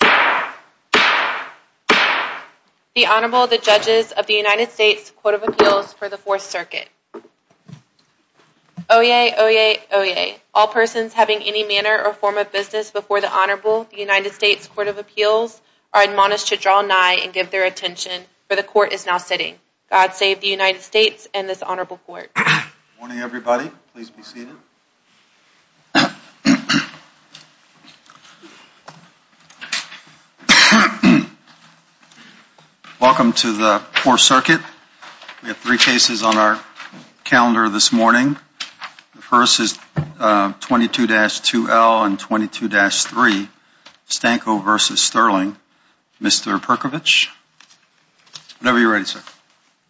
The Honorable, the Judges of the United States Court of Appeals for the 4th Circuit. Oyez! Oyez! Oyez! All persons having any manner or form of business before the Honorable, the United States Court of Appeals, are admonished to draw nigh and give their attention, for the Court is now sitting. God save the United States and this Honorable Court. Good morning, everybody. Please be seated. Welcome to the 4th Circuit. We have three cases on our calendar this morning. The first is 22-2L and 22-3, Stanko v. Stirling. Mr. Perkovich, whenever you're ready, sir.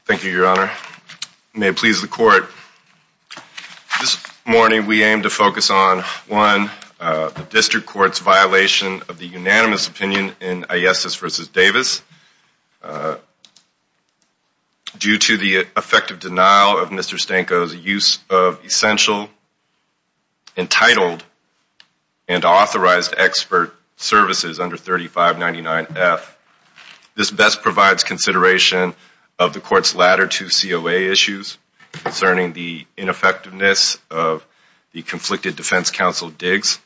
Thank you, Your Honor. May it please the Court. This morning we aim to focus on, one, the District Court's violation of the unanimous opinion in Ayeses v. Davis due to the effective denial of Mr. Stanko's use of essential, entitled, and authorized expert services under 3599F. This best provides consideration of the Court's latter two COA issues concerning the ineffectiveness of the conflicted defense counsel, Diggs.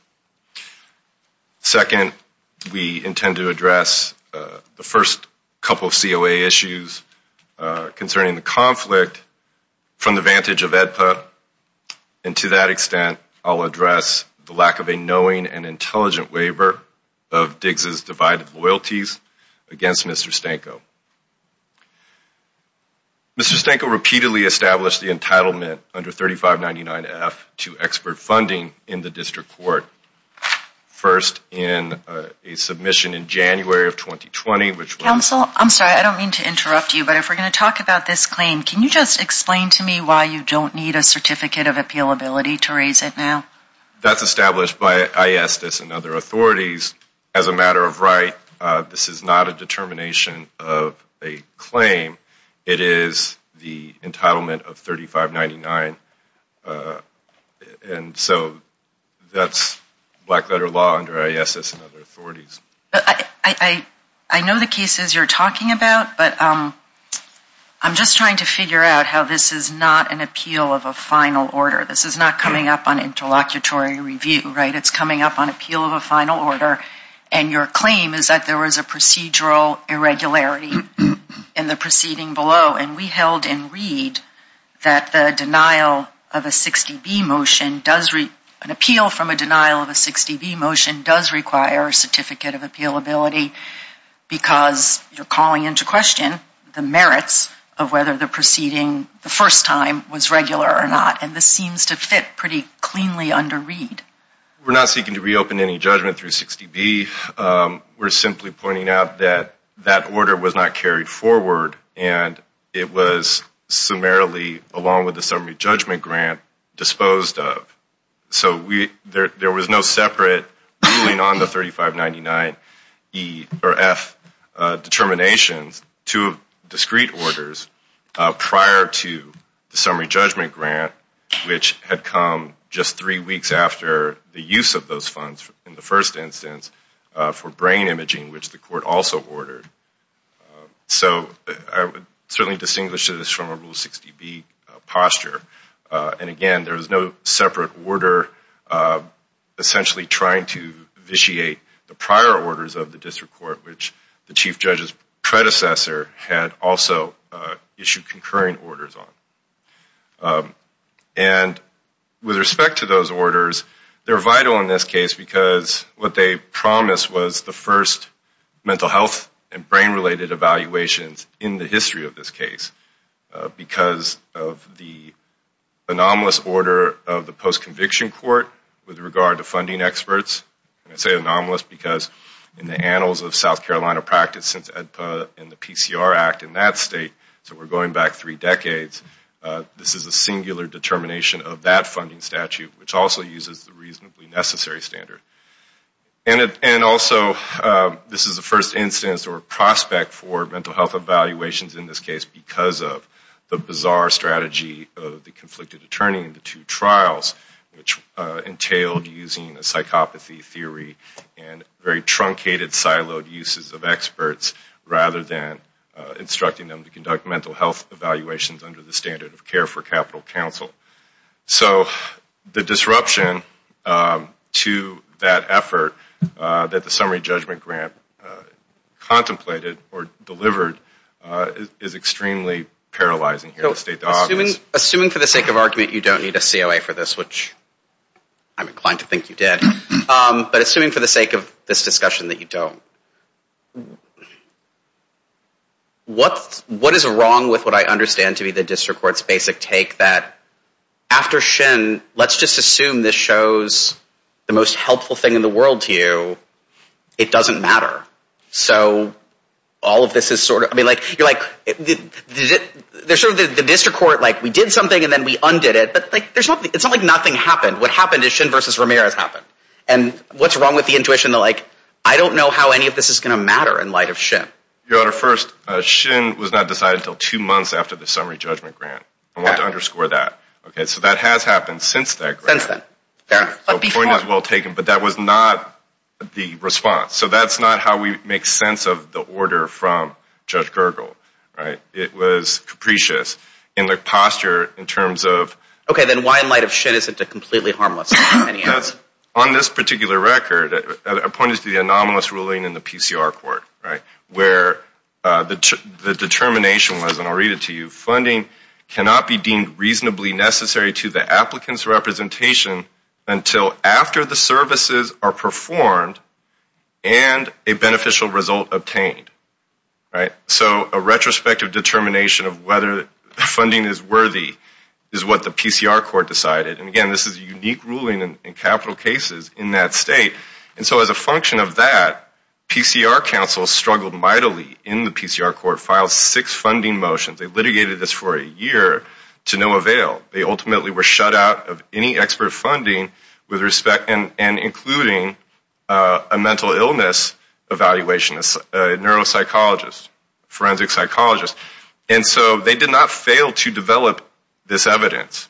Second, we intend to address the first couple of COA issues concerning the conflict from the vantage of AEDPA, and to that extent, I'll address the lack of a knowing and intelligent waiver of Diggs' divided loyalties against Mr. Stanko. Mr. Stanko repeatedly established the entitlement under 3599F to expert funding in the District Court, first in a submission in January of 2020, which was... to raise it now? That's established by Ayeses and other authorities. As a matter of right, this is not a determination of a claim. It is the entitlement of 3599, and so that's black-letter law under Ayeses and other authorities. I know the cases you're talking about, but I'm just trying to figure out how this is not an appeal of a final order. This is not coming up on interlocutory review, right? It's coming up on appeal of a final order, and your claim is that there was a procedural irregularity in the proceeding below, and we held in Reed that the denial of a 60B motion does... an appeal from a denial of a 60B motion does require a certificate of appealability, because you're calling into question the merits of whether the proceeding the first time was regular or not, and this seems to fit pretty cleanly under Reed. We're not seeking to reopen any judgment through 60B. We're simply pointing out that that order was not carried forward, and it was summarily, along with the summary judgment grant, disposed of. So there was no separate ruling on the 3599E or F determinations to discrete orders prior to the summary judgment grant, which had come just three weeks after the use of those funds in the first instance for brain imaging, which the court also ordered. So I would certainly distinguish this from a Rule 60B posture, and again, there was no separate order essentially trying to vitiate the prior orders of the district court, which the chief judge's predecessor had also issued concurring orders on. And with respect to those orders, they're vital in this case, because what they promised was the first mental health and brain-related evaluations in the history of this case, because of the anomalous order of the post-conviction court with regard to funding experts. And I say anomalous because in the annals of South Carolina practice since EDPA and the PCR Act in that state, so we're going back three decades, this is a singular determination of that funding statute, which also uses the reasonably necessary standard. And also, this is the first instance or prospect for mental health evaluations in this case because of the bizarre strategy of the conflicted attorney in the two trials, which entailed using a psychopathy theory and very truncated siloed uses of experts rather than instructing them to conduct mental health evaluations under the standard of care for capital counsel. So the disruption to that effort that the summary judgment grant contemplated or delivered is extremely paralyzing here. Assuming for the sake of argument you don't need a COA for this, which I'm inclined to think you did, but assuming for the sake of this discussion that you don't, what is wrong with what I understand to be the district court's basic take that after Shin, let's just assume this shows the most helpful thing in the world to you, it doesn't matter. So all of this is sort of, I mean, you're like, there's sort of the district court, like we did something and then we undid it, but it's not like nothing happened. What happened is Shin versus Ramirez happened. And what's wrong with the intuition to like, I don't know how any of this is going to matter in light of Shin. Your Honor, first, Shin was not decided until two months after the summary judgment grant. I want to underscore that. So that has happened since that grant. Since then. The point is well taken, but that was not the response. So that's not how we make sense of the order from Judge Gergel, right? It was capricious in the posture in terms of. Okay, then why in light of Shin isn't it completely harmless? On this particular record, I pointed to the anomalous ruling in the PCR court, right, where the determination was, and I'll read it to you, cannot be deemed reasonably necessary to the applicant's representation until after the services are performed and a beneficial result obtained, right? So a retrospective determination of whether funding is worthy is what the PCR court decided. And again, this is a unique ruling in capital cases in that state. And so as a function of that, PCR counsel struggled mightily in the PCR court, filed six funding motions. They litigated this for a year to no avail. They ultimately were shut out of any expert funding with respect and including a mental illness evaluation, a neuropsychologist, forensic psychologist. And so they did not fail to develop this evidence,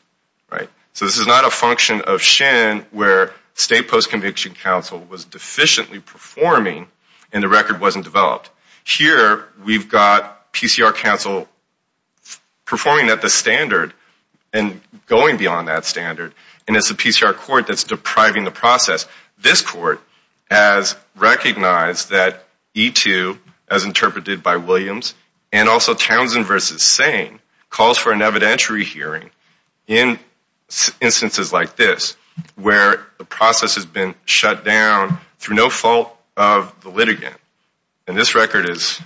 right? So this is not a function of Shin where state postconviction counsel was deficiently performing and the record wasn't developed. Here, we've got PCR counsel performing at the standard and going beyond that standard, and it's the PCR court that's depriving the process. This court has recognized that E2, as interpreted by Williams, and also Townsend v. Sane calls for an evidentiary hearing in instances like this where the process has been shut down through no fault of the litigant. And this record is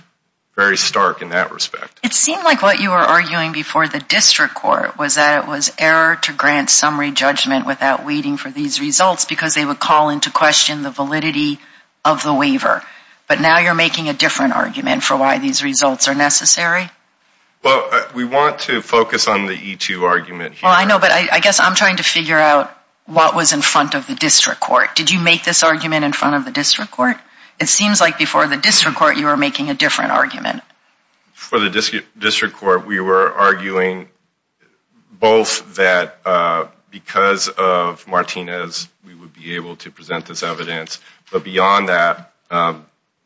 very stark in that respect. It seemed like what you were arguing before the district court was that it was error to grant summary judgment without waiting for these results because they would call into question the validity of the waiver. But now you're making a different argument for why these results are necessary? Well, we want to focus on the E2 argument here. Well, I know, but I guess I'm trying to figure out what was in front of the district court. Did you make this argument in front of the district court? It seems like before the district court, you were making a different argument. For the district court, we were arguing both that because of Martinez, we would be able to present this evidence, but beyond that,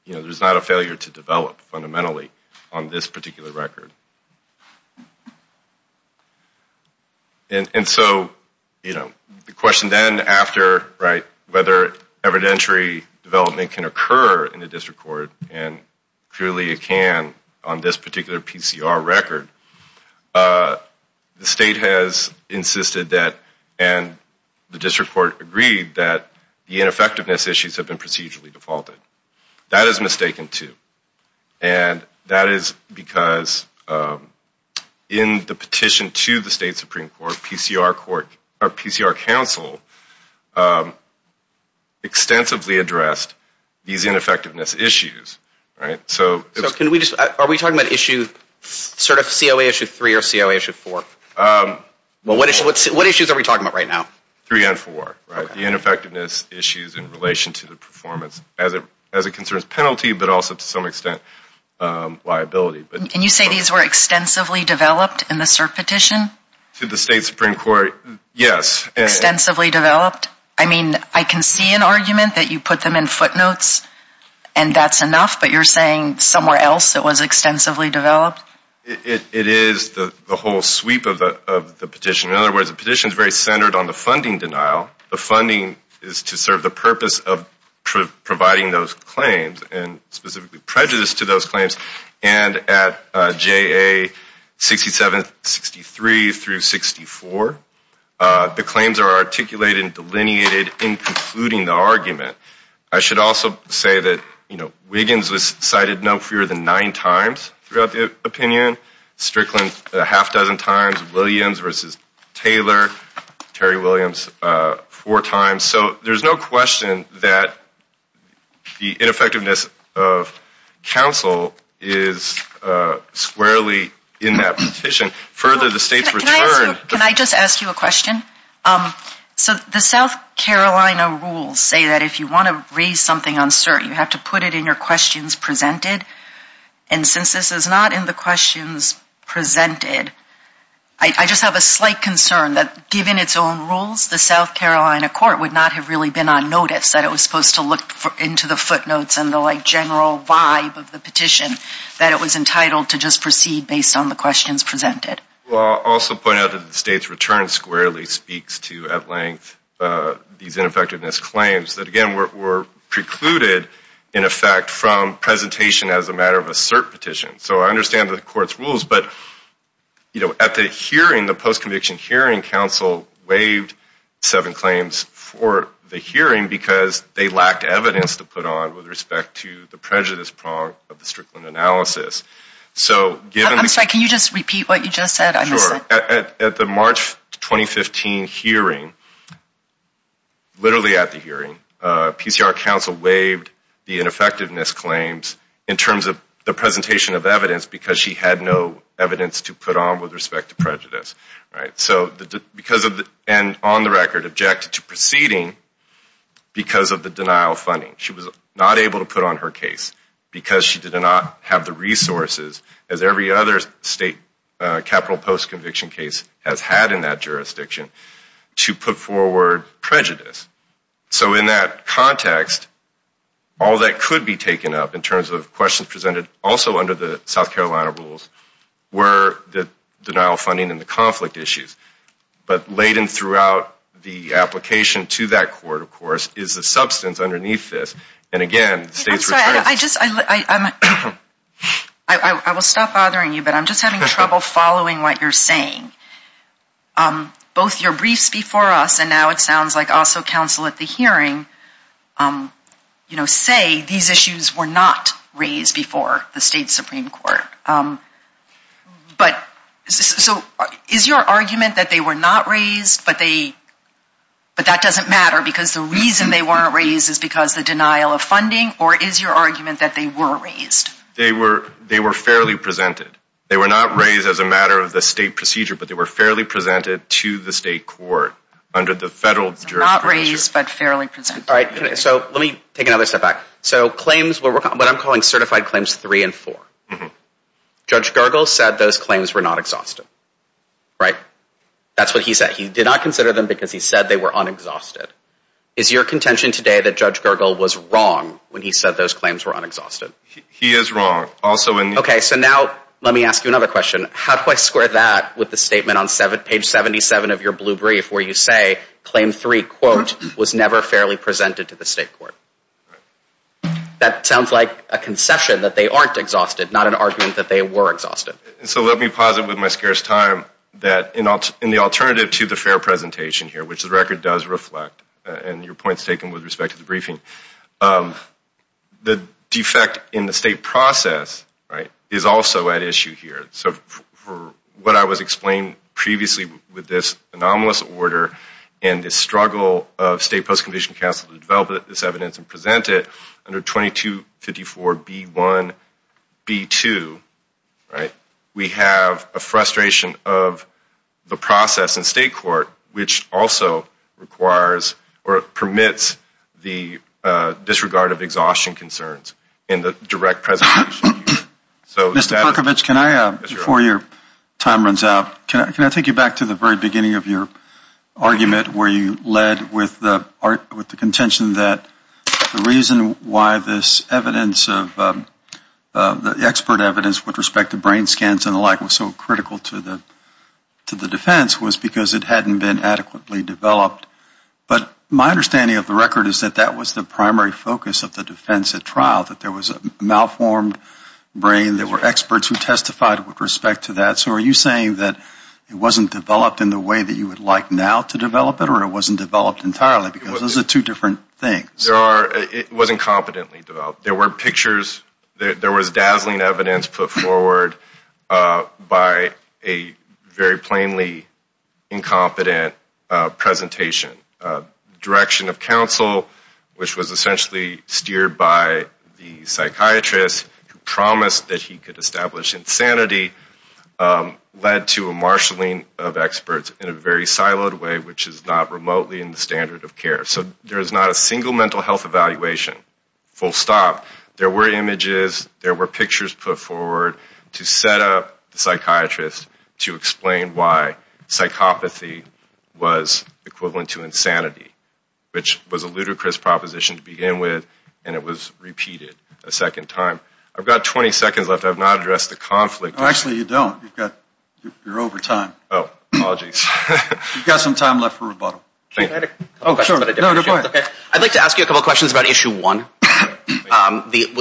there's not a failure to develop fundamentally on this particular record. And so the question then after whether evidentiary development can occur in the district court, and clearly it can on this particular PCR record, the state has insisted that, and the district court agreed that the ineffectiveness issues have been procedurally defaulted. That is mistaken, too. And that is because in the petition to the state supreme court, PCR council extensively addressed these ineffectiveness issues. So are we talking about issue sort of COA issue 3 or COA issue 4? What issues are we talking about right now? 3 and 4, the ineffectiveness issues in relation to the performance as it concerns penalty, but also to some extent liability. And you say these were extensively developed in the cert petition? To the state supreme court, yes. Extensively developed? I mean, I can see an argument that you put them in footnotes and that's enough, but you're saying somewhere else it was extensively developed? It is the whole sweep of the petition. In other words, the petition is very centered on the funding denial. The funding is to serve the purpose of providing those claims and specifically prejudice to those claims. And at JA 6763 through 64, the claims are articulated and delineated in concluding the argument. I should also say that, you know, Wiggins was cited no fewer than nine times throughout the opinion. Strickland a half dozen times. Williams versus Taylor. Terry Williams four times. So there's no question that the ineffectiveness of counsel is squarely in that petition. Further, the state's return. Can I just ask you a question? So the South Carolina rules say that if you want to raise something uncertain, you have to put it in your questions presented. And since this is not in the questions presented, I just have a slight concern that, given its own rules, the South Carolina court would not have really been on notice that it was supposed to look into the footnotes and the general vibe of the petition, that it was entitled to just proceed based on the questions presented. I'll also point out that the state's return squarely speaks to, at length, these ineffectiveness claims that, again, were precluded, in effect, from presentation as a matter of a cert petition. So I understand the court's rules, but, you know, at the hearing, the post-conviction hearing, counsel waived seven claims for the hearing because they lacked evidence to put on with respect to the prejudice prong of the Strickland analysis. I'm sorry, can you just repeat what you just said? At the March 2015 hearing, literally at the hearing, PCR counsel waived the ineffectiveness claims in terms of the presentation of evidence because she had no evidence to put on with respect to prejudice. And on the record, objected to proceeding because of the denial of funding. She was not able to put on her case because she did not have the resources, as every other state capital post-conviction case has had in that jurisdiction, to put forward prejudice. So in that context, all that could be taken up in terms of questions presented, also under the South Carolina rules, were the denial of funding and the conflict issues. But laden throughout the application to that court, of course, is the substance underneath this. I'm sorry, I will stop bothering you, but I'm just having trouble following what you're saying. Both your briefs before us, and now it sounds like also counsel at the hearing, say these issues were not raised before the state Supreme Court. So is your argument that they were not raised, but that doesn't matter because the reason they weren't raised is because the denial of funding, or is your argument that they were raised? They were fairly presented. They were not raised as a matter of the state procedure, but they were fairly presented to the state court under the federal jurisdiction. Not raised, but fairly presented. All right, so let me take another step back. So claims, what I'm calling certified claims three and four. Judge Gergel said those claims were not exhausted, right? That's what he said. He did not consider them because he said they were unexhausted. Is your contention today that Judge Gergel was wrong when he said those claims were unexhausted? He is wrong. Okay, so now let me ask you another question. How do I square that with the statement on page 77 of your blue brief where you say claim three, quote, was never fairly presented to the state court? That sounds like a concession that they aren't exhausted, not an argument that they were exhausted. So let me posit with my scarce time that in the alternative to the fair presentation here, which the record does reflect and your point is taken with respect to the briefing, the defect in the state process is also at issue here. So for what I was explaining previously with this anomalous order and the struggle of state post-conviction counsel to develop this evidence and present it under 2254B1-B2, right, we have a frustration of the process in state court which also requires or permits the disregard of exhaustion concerns in the direct presentation. Mr. Pukovich, can I, before your time runs out, can I take you back to the very beginning of your argument where you led with the contention that the reason why this evidence of the expert evidence with respect to brain scans and the like was so critical to the defense was because it hadn't been adequately developed. But my understanding of the record is that that was the primary focus of the defense at trial, that there was a malformed brain, there were experts who testified with respect to that. So are you saying that it wasn't developed in the way that you would like now to develop it or it wasn't developed entirely because those are two different things? It wasn't competently developed. There were pictures, there was dazzling evidence put forward by a very plainly incompetent presentation. Direction of counsel, which was essentially steered by the psychiatrist who promised that he could establish insanity, led to a marshaling of experts in a very siloed way which is not remotely in the standard of care. So there is not a single mental health evaluation, full stop. There were images, there were pictures put forward to set up the psychiatrist to explain why psychopathy was equivalent to insanity, which was a ludicrous proposition to begin with and it was repeated a second time. I've got 20 seconds left. I've not addressed the conflict. Actually, you don't. You're over time. Oh, apologies. You've got some time left for rebuttal. I'd like to ask you a couple of questions about issue one.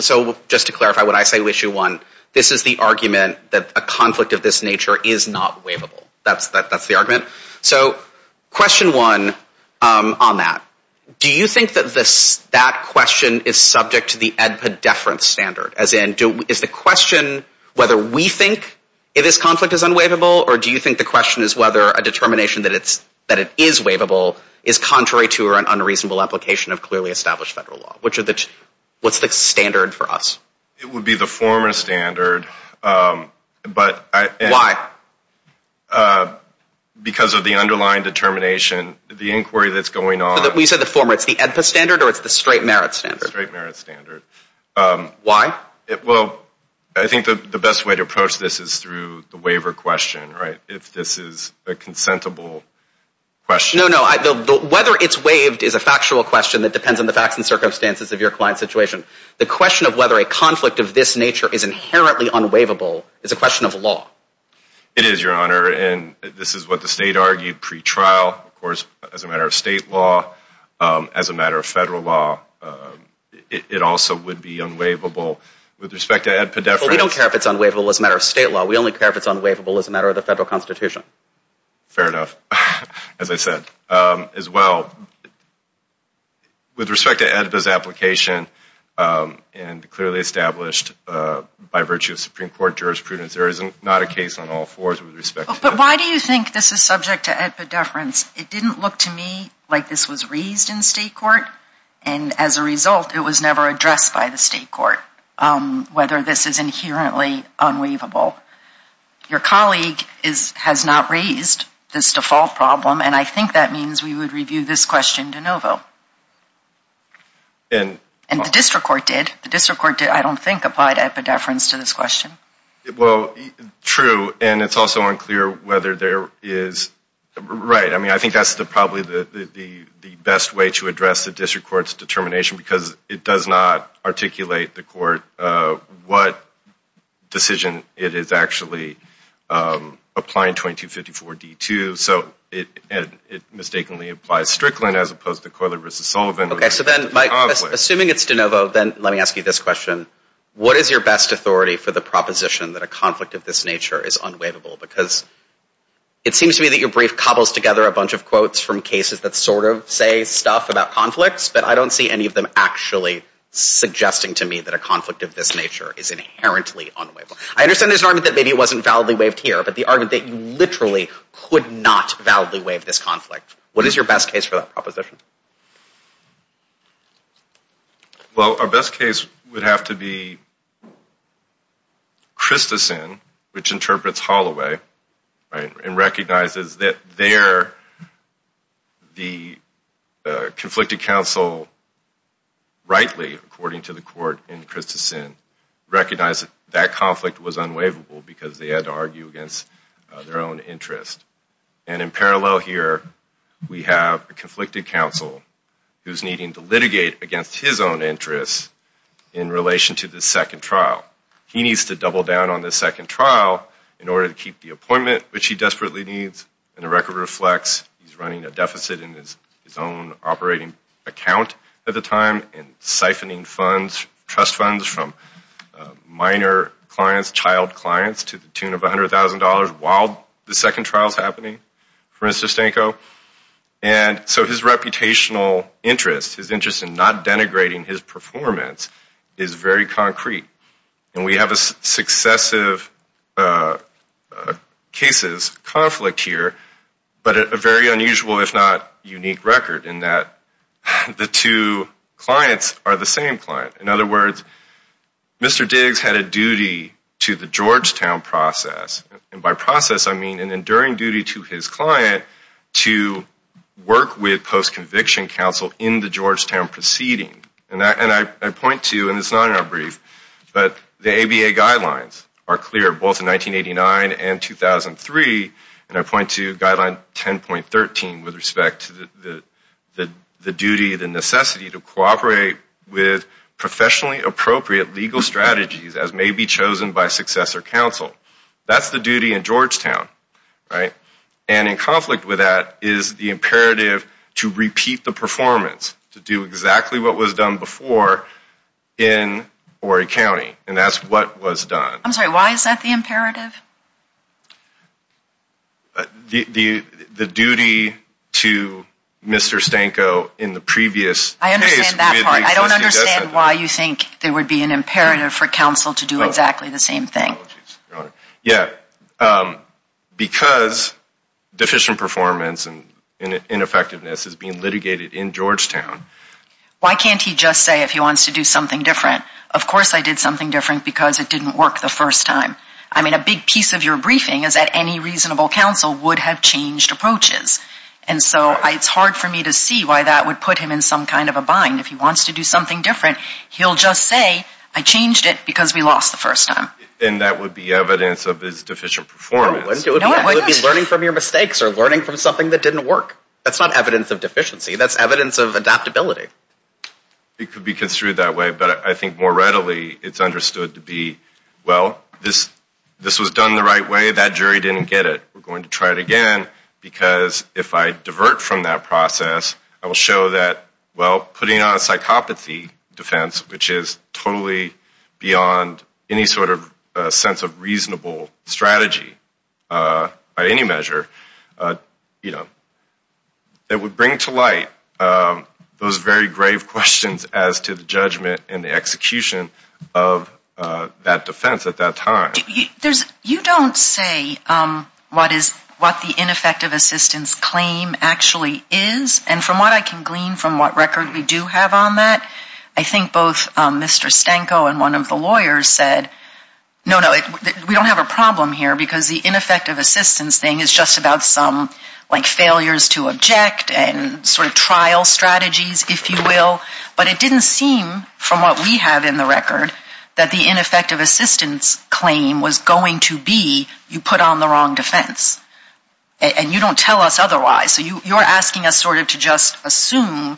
So just to clarify what I say with issue one, this is the argument that a conflict of this nature is not waivable. That's the argument. So question one on that, do you think that that question is subject to the EDPA deference standard? As in, is the question whether we think this conflict is unwaivable or do you think the question is whether a determination that it is waivable is contrary to or an unreasonable application of clearly established federal law? What's the standard for us? It would be the former standard. Why? Because of the underlying determination, the inquiry that's going on. You said the former. It's the EDPA standard or it's the straight merit standard? Straight merit standard. Why? Well, I think the best way to approach this is through the waiver question, right, if this is a consentable question. No, no. Whether it's waived is a factual question that depends on the facts and circumstances of your client's situation. The question of whether a conflict of this nature is inherently unwaivable is a question of law. It is, Your Honor, and this is what the state argued pre-trial. Of course, as a matter of state law, as a matter of federal law, it also would be unwaivable. We don't care if it's unwaivable as a matter of state law. We only care if it's unwaivable as a matter of the federal constitution. Fair enough, as I said. As well, with respect to EDPA's application, and clearly established by virtue of Supreme Court jurisprudence, there is not a case on all fours with respect to that. But why do you think this is subject to EDPA deference? It didn't look to me like this was raised in state court, and as a result, it was never addressed by the state court, whether this is inherently unwaivable. Your colleague has not raised this default problem, and I think that means we would review this question de novo. And the district court did. The district court, I don't think, applied EDPA deference to this question. Well, true, and it's also unclear whether there is... Right, I mean, I think that's probably the best way to address the district court's determination because it does not articulate the court what decision it is actually applying 2254-D to. So it mistakenly applies Strickland as opposed to Coyler v. Sullivan. Okay, so then Mike, assuming it's de novo, then let me ask you this question. What is your best authority for the proposition that a conflict of this nature is unwaivable? Because it seems to me that your brief cobbles together a bunch of quotes from cases that sort of say stuff about conflicts, but I don't see any of them actually suggesting to me that a conflict of this nature is inherently unwaivable. I understand there's an argument that maybe it wasn't validly waived here, but the argument that you literally could not validly waive this conflict. What is your best case for that proposition? Well, our best case would have to be Christensen, which interprets Holloway and recognizes that there the conflicted counsel rightly, according to the court in Christensen, recognized that that conflict was unwaivable because they had to argue against their own interest. And in parallel here, we have a conflicted counsel who's needing to litigate against his own interest in relation to the second trial. He needs to double down on the second trial in order to keep the appointment, which he desperately needs, and the record reflects he's running a deficit in his own operating account at the time and siphoning funds, trust funds, from minor clients, child clients, to the tune of $100,000 while the second trial's happening for Mr. Stanko. And so his reputational interest, his interest in not denigrating his performance, is very concrete. And we have successive cases, conflict here, but a very unusual, if not unique, record in that the two clients are the same client. In other words, Mr. Diggs had a duty to the Georgetown process. And by process, I mean an enduring duty to his client to work with post-conviction counsel in the Georgetown proceeding. And I point to, and this is not in our brief, but the ABA guidelines are clear, both in 1989 and 2003, and I point to guideline 10.13 with respect to the duty, the necessity to cooperate with professionally appropriate legal strategies as may be chosen by successor counsel. That's the duty in Georgetown, right? And in conflict with that is the imperative to repeat the performance, to do exactly what was done before in Horry County, and that's what was done. I'm sorry, why is that the imperative? The duty to Mr. Stanko in the previous case. I understand that part. I don't understand why you think there would be an imperative for counsel to do exactly the same thing. Yeah, because deficient performance and ineffectiveness is being litigated in Georgetown. Why can't he just say if he wants to do something different? Of course I did something different because it didn't work the first time. I mean, a big piece of your briefing is that any reasonable counsel would have changed approaches, and so it's hard for me to see why that would put him in some kind of a bind. If he wants to do something different, he'll just say I changed it because we lost the first time. Then that would be evidence of his deficient performance. No, it wouldn't. It would be learning from your mistakes or learning from something that didn't work. That's not evidence of deficiency. That's evidence of adaptability. It could be construed that way, but I think more readily it's understood to be, well, this was done the right way. That jury didn't get it. We're going to try it again because if I divert from that process, I will show that, well, putting on a psychopathy defense, which is totally beyond any sort of sense of reasonable strategy by any measure, you know, it would bring to light those very grave questions as to the judgment and the execution of that defense at that time. You don't say what the ineffective assistance claim actually is, and from what I can glean from what record we do have on that, I think both Mr. Stanko and one of the lawyers said, no, no, we don't have a problem here because the ineffective assistance thing is just about some, like, failures to object and sort of trial strategies, if you will. But it didn't seem, from what we have in the record, that the ineffective assistance claim was going to be you put on the wrong defense. And you don't tell us otherwise. So you're asking us sort of to just assume,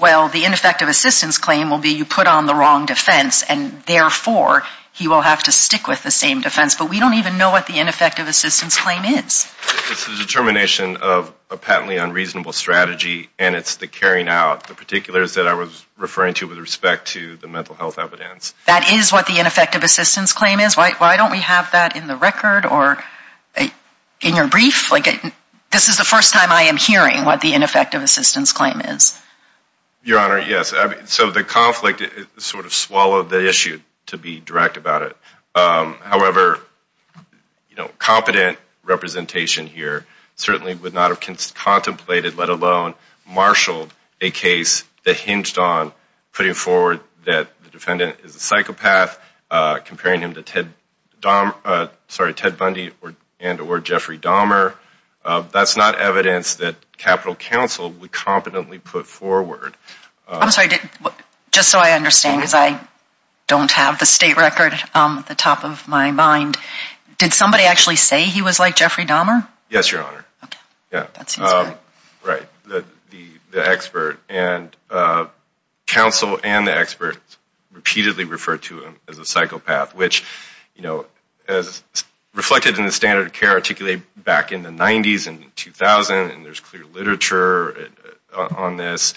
well, the ineffective assistance claim will be you put on the wrong defense, and therefore he will have to stick with the same defense. But we don't even know what the ineffective assistance claim is. It's the determination of a patently unreasonable strategy, and it's the carrying out, the particulars that I was referring to with respect to the mental health evidence. That is what the ineffective assistance claim is. Why don't we have that in the record or in your brief? Like, this is the first time I am hearing what the ineffective assistance claim is. Your Honor, yes. So the conflict sort of swallowed the issue, to be direct about it. However, competent representation here certainly would not have contemplated, let alone marshaled, a case that hinged on putting forward that the defendant is a psychopath, comparing him to Ted Bundy and or Jeffrey Dahmer. That's not evidence that Capitol Council would competently put forward. I'm sorry. Just so I understand, because I don't have the state record at the top of my mind, did somebody actually say he was like Jeffrey Dahmer? Yes, Your Honor. Okay. That seems good. Right. The expert. And counsel and the expert repeatedly referred to him as a psychopath, which, you know, as reflected in the standard of care articulated back in the 90s and 2000, and there's clear literature on this,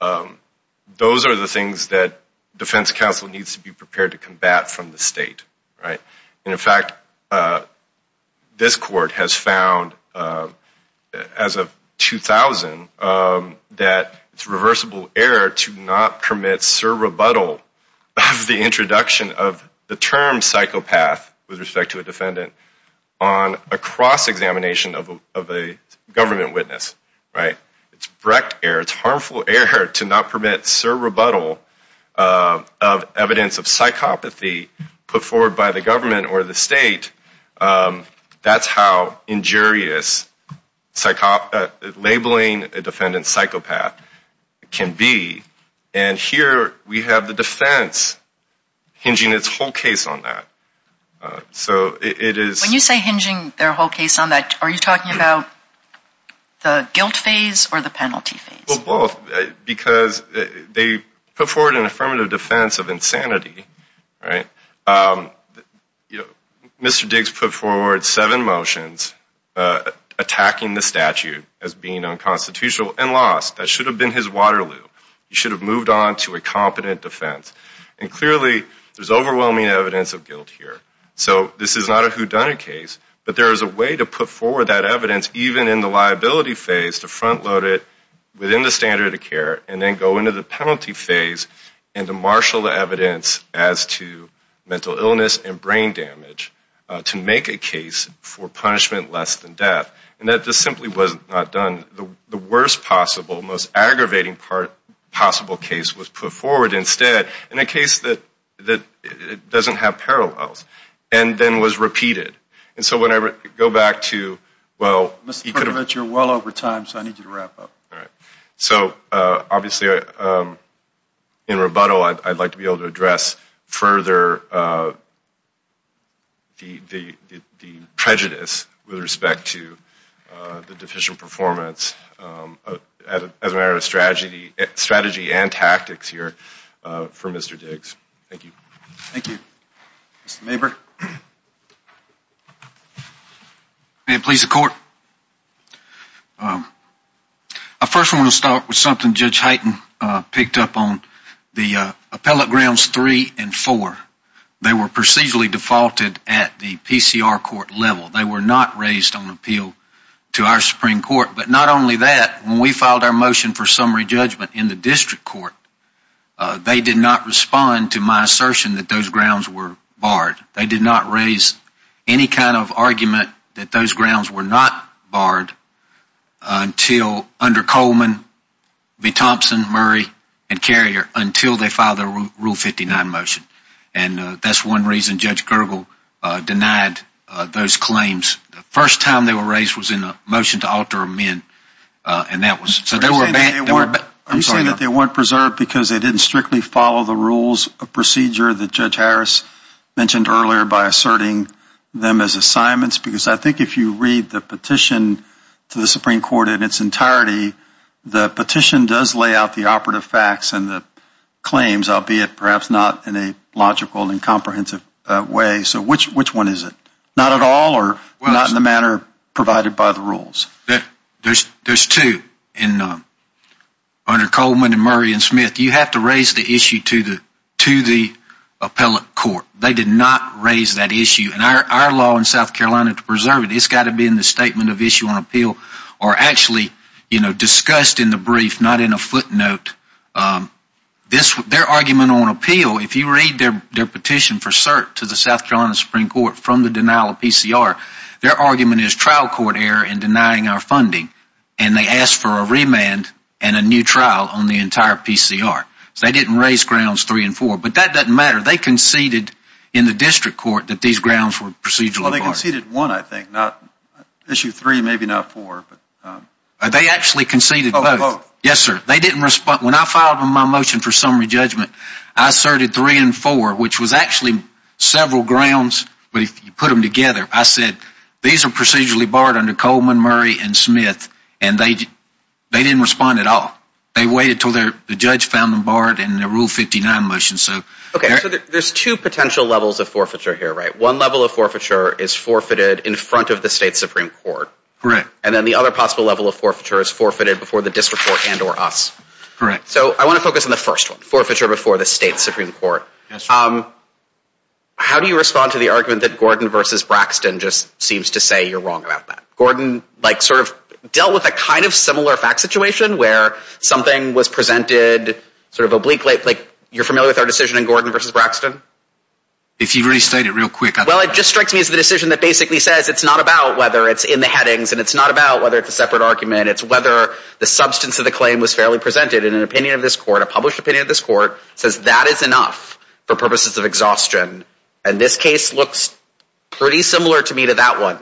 those are the things that defense counsel needs to be prepared to combat from the state, right? And, in fact, this court has found, as of 2000, that it's reversible error to not permit sur rebuttal of the introduction of the term psychopath with respect to a defendant on a cross-examination of a government witness, right? It's brecht error, it's harmful error to not permit sur rebuttal of evidence of psychopathy put forward by the government or the state. That's how injurious labeling a defendant psychopath can be. And here we have the defense hinging its whole case on that. When you say hinging their whole case on that, are you talking about the guilt phase or the penalty phase? Well, both, because they put forward an affirmative defense of insanity, right? Mr. Diggs put forward seven motions attacking the statute as being unconstitutional and lost. That should have been his water loop. He should have moved on to a competent defense. And, clearly, there's overwhelming evidence of guilt here. So this is not a whodunit case, but there is a way to put forward that evidence, even in the liability phase, to front load it within the standard of care and then go into the penalty phase and to marshal the evidence as to mental illness and brain damage to make a case for punishment less than death. And that just simply was not done. The worst possible, most aggravating possible case was put forward instead in a case that doesn't have parallels and then was repeated. And so when I go back to, well... Mr. Perdovich, you're well over time, so I need you to wrap up. All right. So, obviously, in rebuttal, I'd like to be able to address further the prejudice with respect to the deficient performance as a matter of strategy and tactics here for Mr. Diggs. Thank you. Thank you. Mr. Maberg. May it please the Court. I first want to start with something Judge Heighton picked up on. The appellate grounds three and four, they were procedurally defaulted at the PCR court level. They were not raised on appeal to our Supreme Court. But not only that, when we filed our motion for summary judgment in the district court, they did not respond to my assertion that those grounds were barred. They did not raise any kind of argument that those grounds were not barred until under Coleman, V. Thompson, Murray, and Carrier, until they filed their Rule 59 motion. And that's one reason Judge Gergel denied those claims. The first time they were raised was in a motion to alter amend, and that was... Are you saying that they weren't preserved because they didn't strictly follow the rules of procedure that Judge Harris mentioned earlier by asserting them as assignments? Because I think if you read the petition to the Supreme Court in its entirety, the petition does lay out the operative facts and the claims, albeit perhaps not in a logical and comprehensive way. So which one is it? Not at all or not in the manner provided by the rules? There's two. Under Coleman and Murray and Smith, you have to raise the issue to the appellate court. They did not raise that issue. And our law in South Carolina, to preserve it, it's got to be in the statement of issue on appeal or actually discussed in the brief, not in a footnote. Their argument on appeal, if you read their petition for cert to the South Carolina Supreme Court from the denial of PCR, their argument is trial court error in denying our funding. And they asked for a remand and a new trial on the entire PCR. So they didn't raise grounds three and four. But that doesn't matter. They conceded in the district court that these grounds were procedurally barred. Well, they conceded one, I think, not issue three, maybe not four. They actually conceded both. Yes, sir. They didn't respond. When I filed my motion for summary judgment, I asserted three and four, which was actually several grounds, but if you put them together, I said these are procedurally barred under Coleman, Murray, and Smith, and they didn't respond at all. They waited until the judge found them barred in the Rule 59 motion. Okay. So there's two potential levels of forfeiture here, right? One level of forfeiture is forfeited in front of the state Supreme Court. Correct. And then the other possible level of forfeiture is forfeited before the district court and or us. Correct. So I want to focus on the first one, forfeiture before the state Supreme Court. Yes, sir. How do you respond to the argument that Gordon v. Braxton just seems to say you're wrong about that? Gordon, like, sort of dealt with a kind of similar fact situation where something was presented sort of obliquely. Like, you're familiar with our decision in Gordon v. Braxton? If you restate it real quick. Well, it just strikes me as the decision that basically says it's not about whether it's in the headings and it's not about whether it's a separate argument. It's whether the substance of the claim was fairly presented in an opinion of this court, a published opinion of this court, says that is enough for purposes of exhaustion. And this case looks pretty similar to me to that one.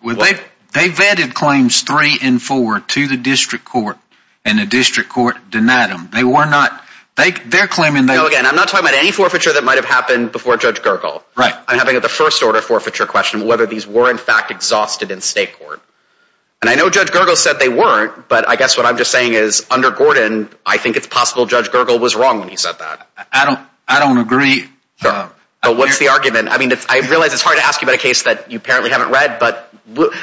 They vetted claims three and four to the district court, and the district court denied them. They were not. They're claiming that. Again, I'm not talking about any forfeiture that might have happened before Judge Gergel. Right. I'm talking about the first order of forfeiture question, whether these were in fact exhausted in state court. And I know Judge Gergel said they weren't, but I guess what I'm just saying is under Gordon, I think it's possible Judge Gergel was wrong when he said that. I don't agree. But what's the argument? I mean, I realize it's hard to ask you about a case that you apparently haven't read, but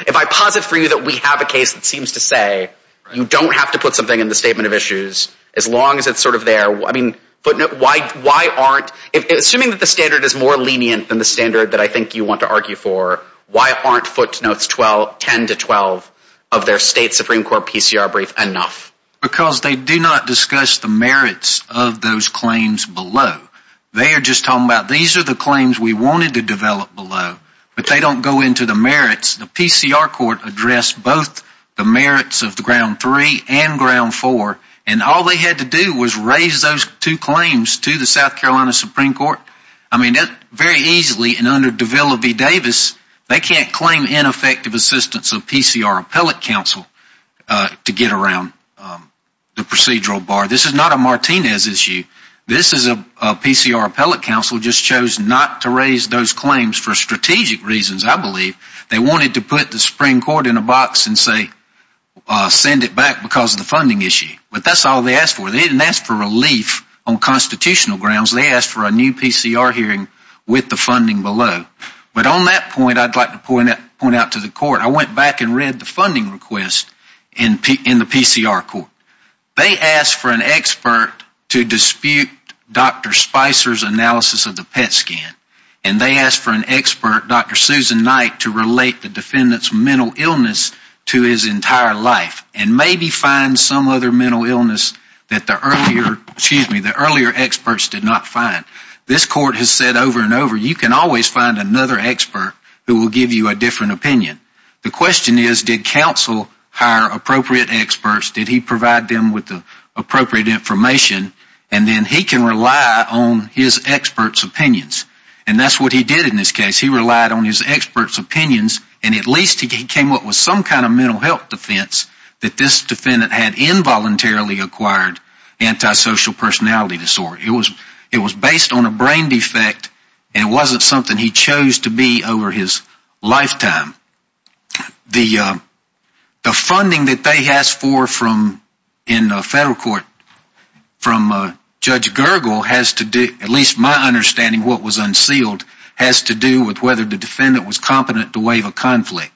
if I posit for you that we have a case that seems to say you don't have to put something in the statement of issues, as long as it's sort of there. I mean, why aren't, assuming that the standard is more lenient than the standard that I think you want to argue for, why aren't footnotes 10 to 12 of their state Supreme Court PCR brief enough? Because they do not discuss the merits of those claims below. They are just talking about these are the claims we wanted to develop below, but they don't go into the merits. The PCR court addressed both the merits of the ground three and ground four, and all they had to do was raise those two claims to the South Carolina Supreme Court. I mean, very easily, and under Davila v. Davis, they can't claim ineffective assistance of PCR appellate counsel to get around the procedural bar. This is not a Martinez issue. This is a PCR appellate counsel just chose not to raise those claims for strategic reasons, I believe. They wanted to put the Supreme Court in a box and say send it back because of the funding issue. But that's all they asked for. They didn't ask for relief on constitutional grounds. They asked for a new PCR hearing with the funding below. But on that point, I'd like to point out to the court, I went back and read the funding request in the PCR court. They asked for an expert to dispute Dr. Spicer's analysis of the PET scan, and they asked for an expert, Dr. Susan Knight, to relate the defendant's mental illness to his entire life and maybe find some other mental illness that the earlier experts did not find. This court has said over and over, you can always find another expert who will give you a different opinion. The question is, did counsel hire appropriate experts? Did he provide them with the appropriate information? And then he can rely on his experts' opinions. And that's what he did in this case. He relied on his experts' opinions, and at least he came up with some kind of mental health defense that this defendant had involuntarily acquired antisocial personality disorder. It was based on a brain defect, and it wasn't something he chose to be over his lifetime. The funding that they asked for in federal court from Judge Gergel has to do, at least my understanding of what was unsealed, has to do with whether the defendant was competent to waive a conflict.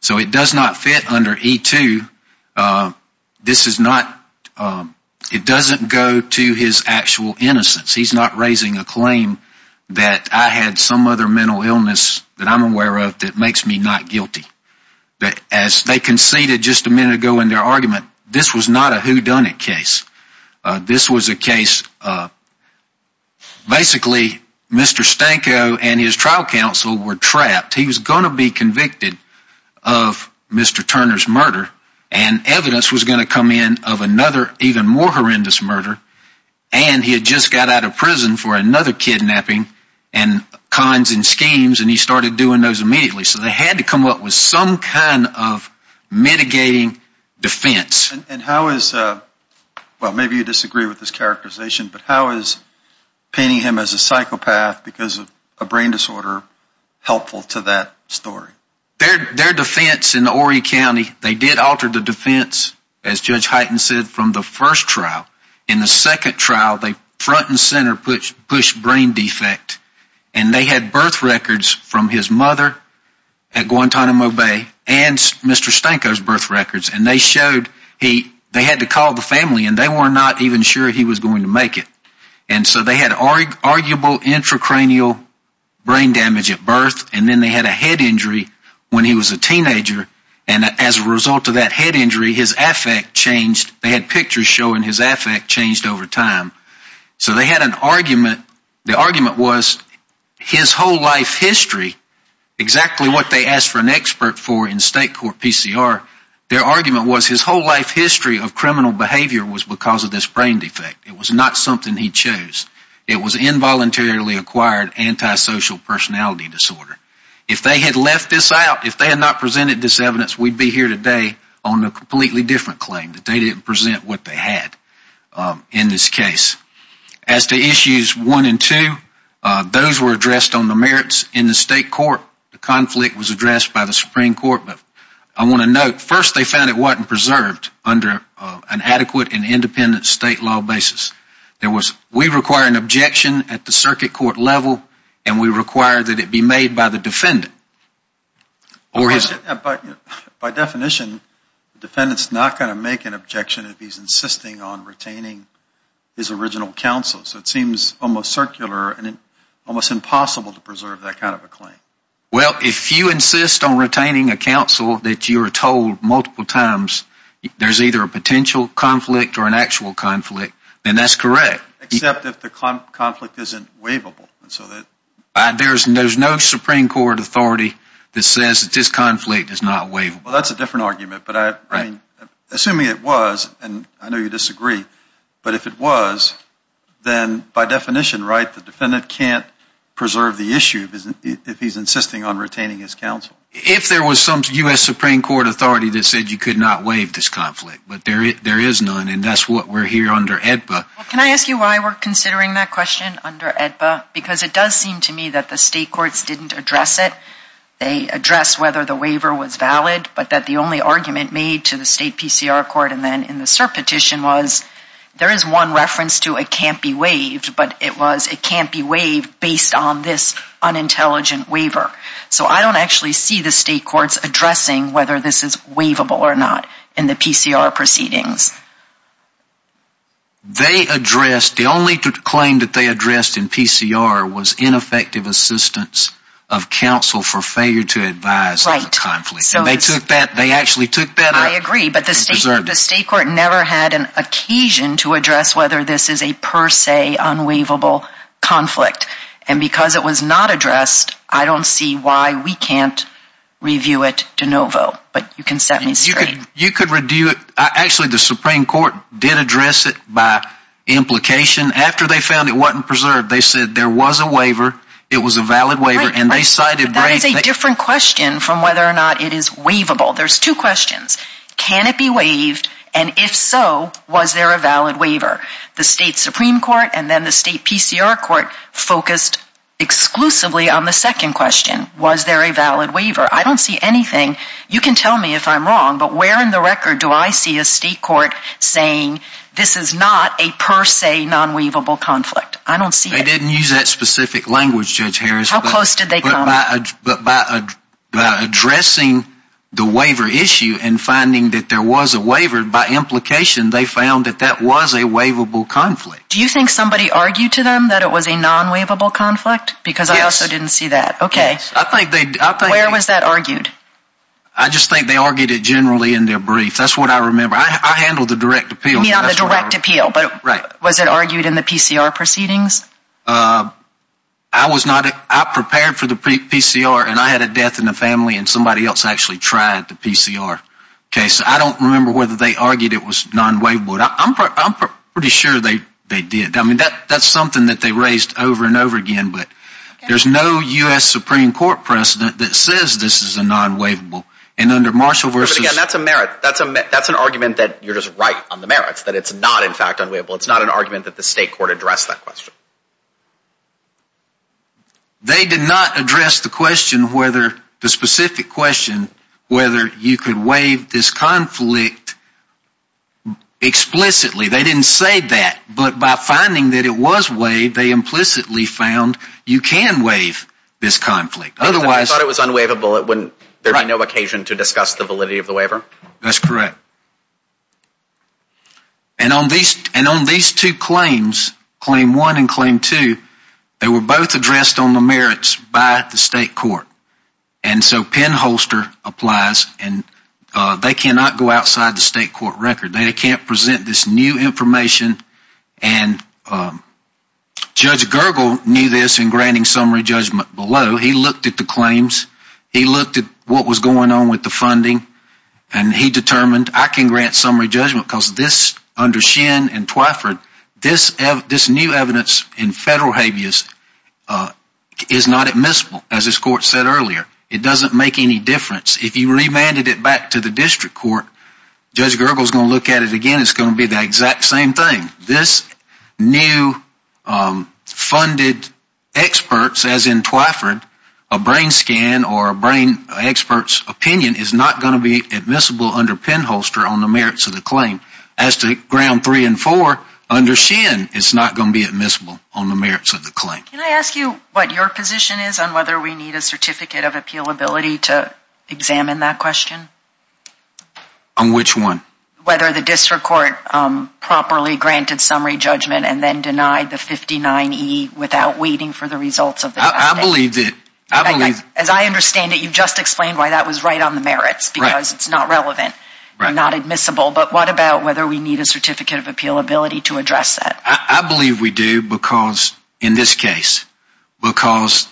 So it does not fit under E-2. It doesn't go to his actual innocence. He's not raising a claim that I had some other mental illness that I'm aware of that makes me not guilty. As they conceded just a minute ago in their argument, this was not a whodunit case. This was a case, basically, Mr. Stanko and his trial counsel were trapped. He was going to be convicted of Mr. Turner's murder, and evidence was going to come in of another, even more horrendous murder, and he had just got out of prison for another kidnapping and cons and schemes, and he started doing those immediately. So they had to come up with some kind of mitigating defense. And how is, well, maybe you disagree with this characterization, but how is painting him as a psychopath because of a brain disorder helpful to that story? Their defense in Horry County, they did alter the defense, as Judge Hyten said, from the first trial. In the second trial, they front and center pushed brain defect, and they had birth records from his mother at Guantanamo Bay and Mr. Stanko's birth records, and they had to call the family, and they were not even sure he was going to make it. And so they had arguable intracranial brain damage at birth, and then they had a head injury when he was a teenager, and as a result of that head injury, his affect changed. They had pictures showing his affect changed over time. So they had an argument. The argument was his whole life history, exactly what they asked for an expert for in state court PCR, their argument was his whole life history of criminal behavior was because of this brain defect. It was not something he chose. It was involuntarily acquired antisocial personality disorder. If they had left this out, if they had not presented this evidence, we would be here today on a completely different claim, that they didn't present what they had in this case. As to issues one and two, those were addressed on the merits in the state court. The conflict was addressed by the Supreme Court, but I want to note, first they found it wasn't preserved under an adequate and independent state law basis. We require an objection at the circuit court level, and we require that it be made by the defendant. By definition, the defendant is not going to make an objection if he's insisting on retaining his original counsel. So it seems almost circular and almost impossible to preserve that kind of a claim. Well, if you insist on retaining a counsel that you're told multiple times there's either a potential conflict or an actual conflict, then that's correct. Except if the conflict isn't waivable. There's no Supreme Court authority that says that this conflict is not waivable. Well, that's a different argument, but assuming it was, and I know you disagree, but if it was, then by definition, right, the defendant can't preserve the issue if he's insisting on retaining his counsel. If there was some U.S. Supreme Court authority that said you could not waive this conflict, but there is none, and that's what we're here under AEDPA. Well, can I ask you why we're considering that question under AEDPA? Because it does seem to me that the state courts didn't address it. They addressed whether the waiver was valid, but that the only argument made to the state PCR court and then in the cert petition was there is one reference to it can't be waived, but it was it can't be waived based on this unintelligent waiver. So I don't actually see the state courts addressing whether this is waivable or not in the PCR proceedings. They addressed, the only claim that they addressed in PCR was ineffective assistance of counsel for failure to advise on the conflict. Right. And they took that, they actually took that. I agree, but the state court never had an occasion to address whether this is a per se unwaivable conflict, and because it was not addressed, I don't see why we can't review it de novo, but you can set me straight. You could review it. Actually, the Supreme Court did address it by implication. After they found it wasn't preserved, they said there was a waiver, it was a valid waiver, and they cited break. That is a different question from whether or not it is waivable. There's two questions. Can it be waived, and if so, was there a valid waiver? The state Supreme Court and then the state PCR court focused exclusively on the second question. Was there a valid waiver? I don't see anything. You can tell me if I'm wrong, but where in the record do I see a state court saying this is not a per se nonwaivable conflict? I don't see it. They didn't use that specific language, Judge Harris. How close did they come? But by addressing the waiver issue and finding that there was a waiver, by implication they found that that was a waivable conflict. Do you think somebody argued to them that it was a nonwaivable conflict? Yes. Because I also didn't see that. Okay. I think they did. Where was that argued? I just think they argued it generally in their brief. That's what I remember. I handled the direct appeal. Not the direct appeal, but was it argued in the PCR proceedings? I prepared for the PCR, and I had a death in the family, and somebody else actually tried the PCR case. I don't remember whether they argued it was nonwaivable. I'm pretty sure they did. I mean, that's something that they raised over and over again. But there's no U.S. Supreme Court precedent that says this is a nonwaivable. And under Marshall v... But, again, that's a merit. That's an argument that you're just right on the merits, that it's not, in fact, unwaivable. It's not an argument that the state court addressed that question. They did not address the question whether, the specific question, whether you could waive this conflict explicitly. They didn't say that. But by finding that it was waived, they implicitly found you can waive this conflict. I thought it was unwaivable. There would be no occasion to discuss the validity of the waiver? That's correct. And on these two claims, Claim 1 and Claim 2, they were both addressed on the merits by the state court. And so penholster applies, and they cannot go outside the state court record. They can't present this new information. And Judge Gergel knew this in granting summary judgment below. He looked at the claims. He looked at what was going on with the funding, and he determined, I can grant summary judgment because this, under Shin and Twyford, this new evidence in federal habeas is not admissible, as this court said earlier. It doesn't make any difference. If you remanded it back to the district court, Judge Gergel is going to look at it again. It's going to be the exact same thing. This new funded experts, as in Twyford, a brain scan or a brain expert's opinion is not going to be admissible under penholster on the merits of the claim. As to Ground 3 and 4, under Shin, it's not going to be admissible on the merits of the claim. Can I ask you what your position is on whether we need a certificate of appealability to examine that question? On which one? Whether the district court properly granted summary judgment and then denied the 59E without waiting for the results of the testing. I believe that. As I understand it, you just explained why that was right on the merits, because it's not relevant, not admissible. But what about whether we need a certificate of appealability to address that? I believe we do because, in this case, because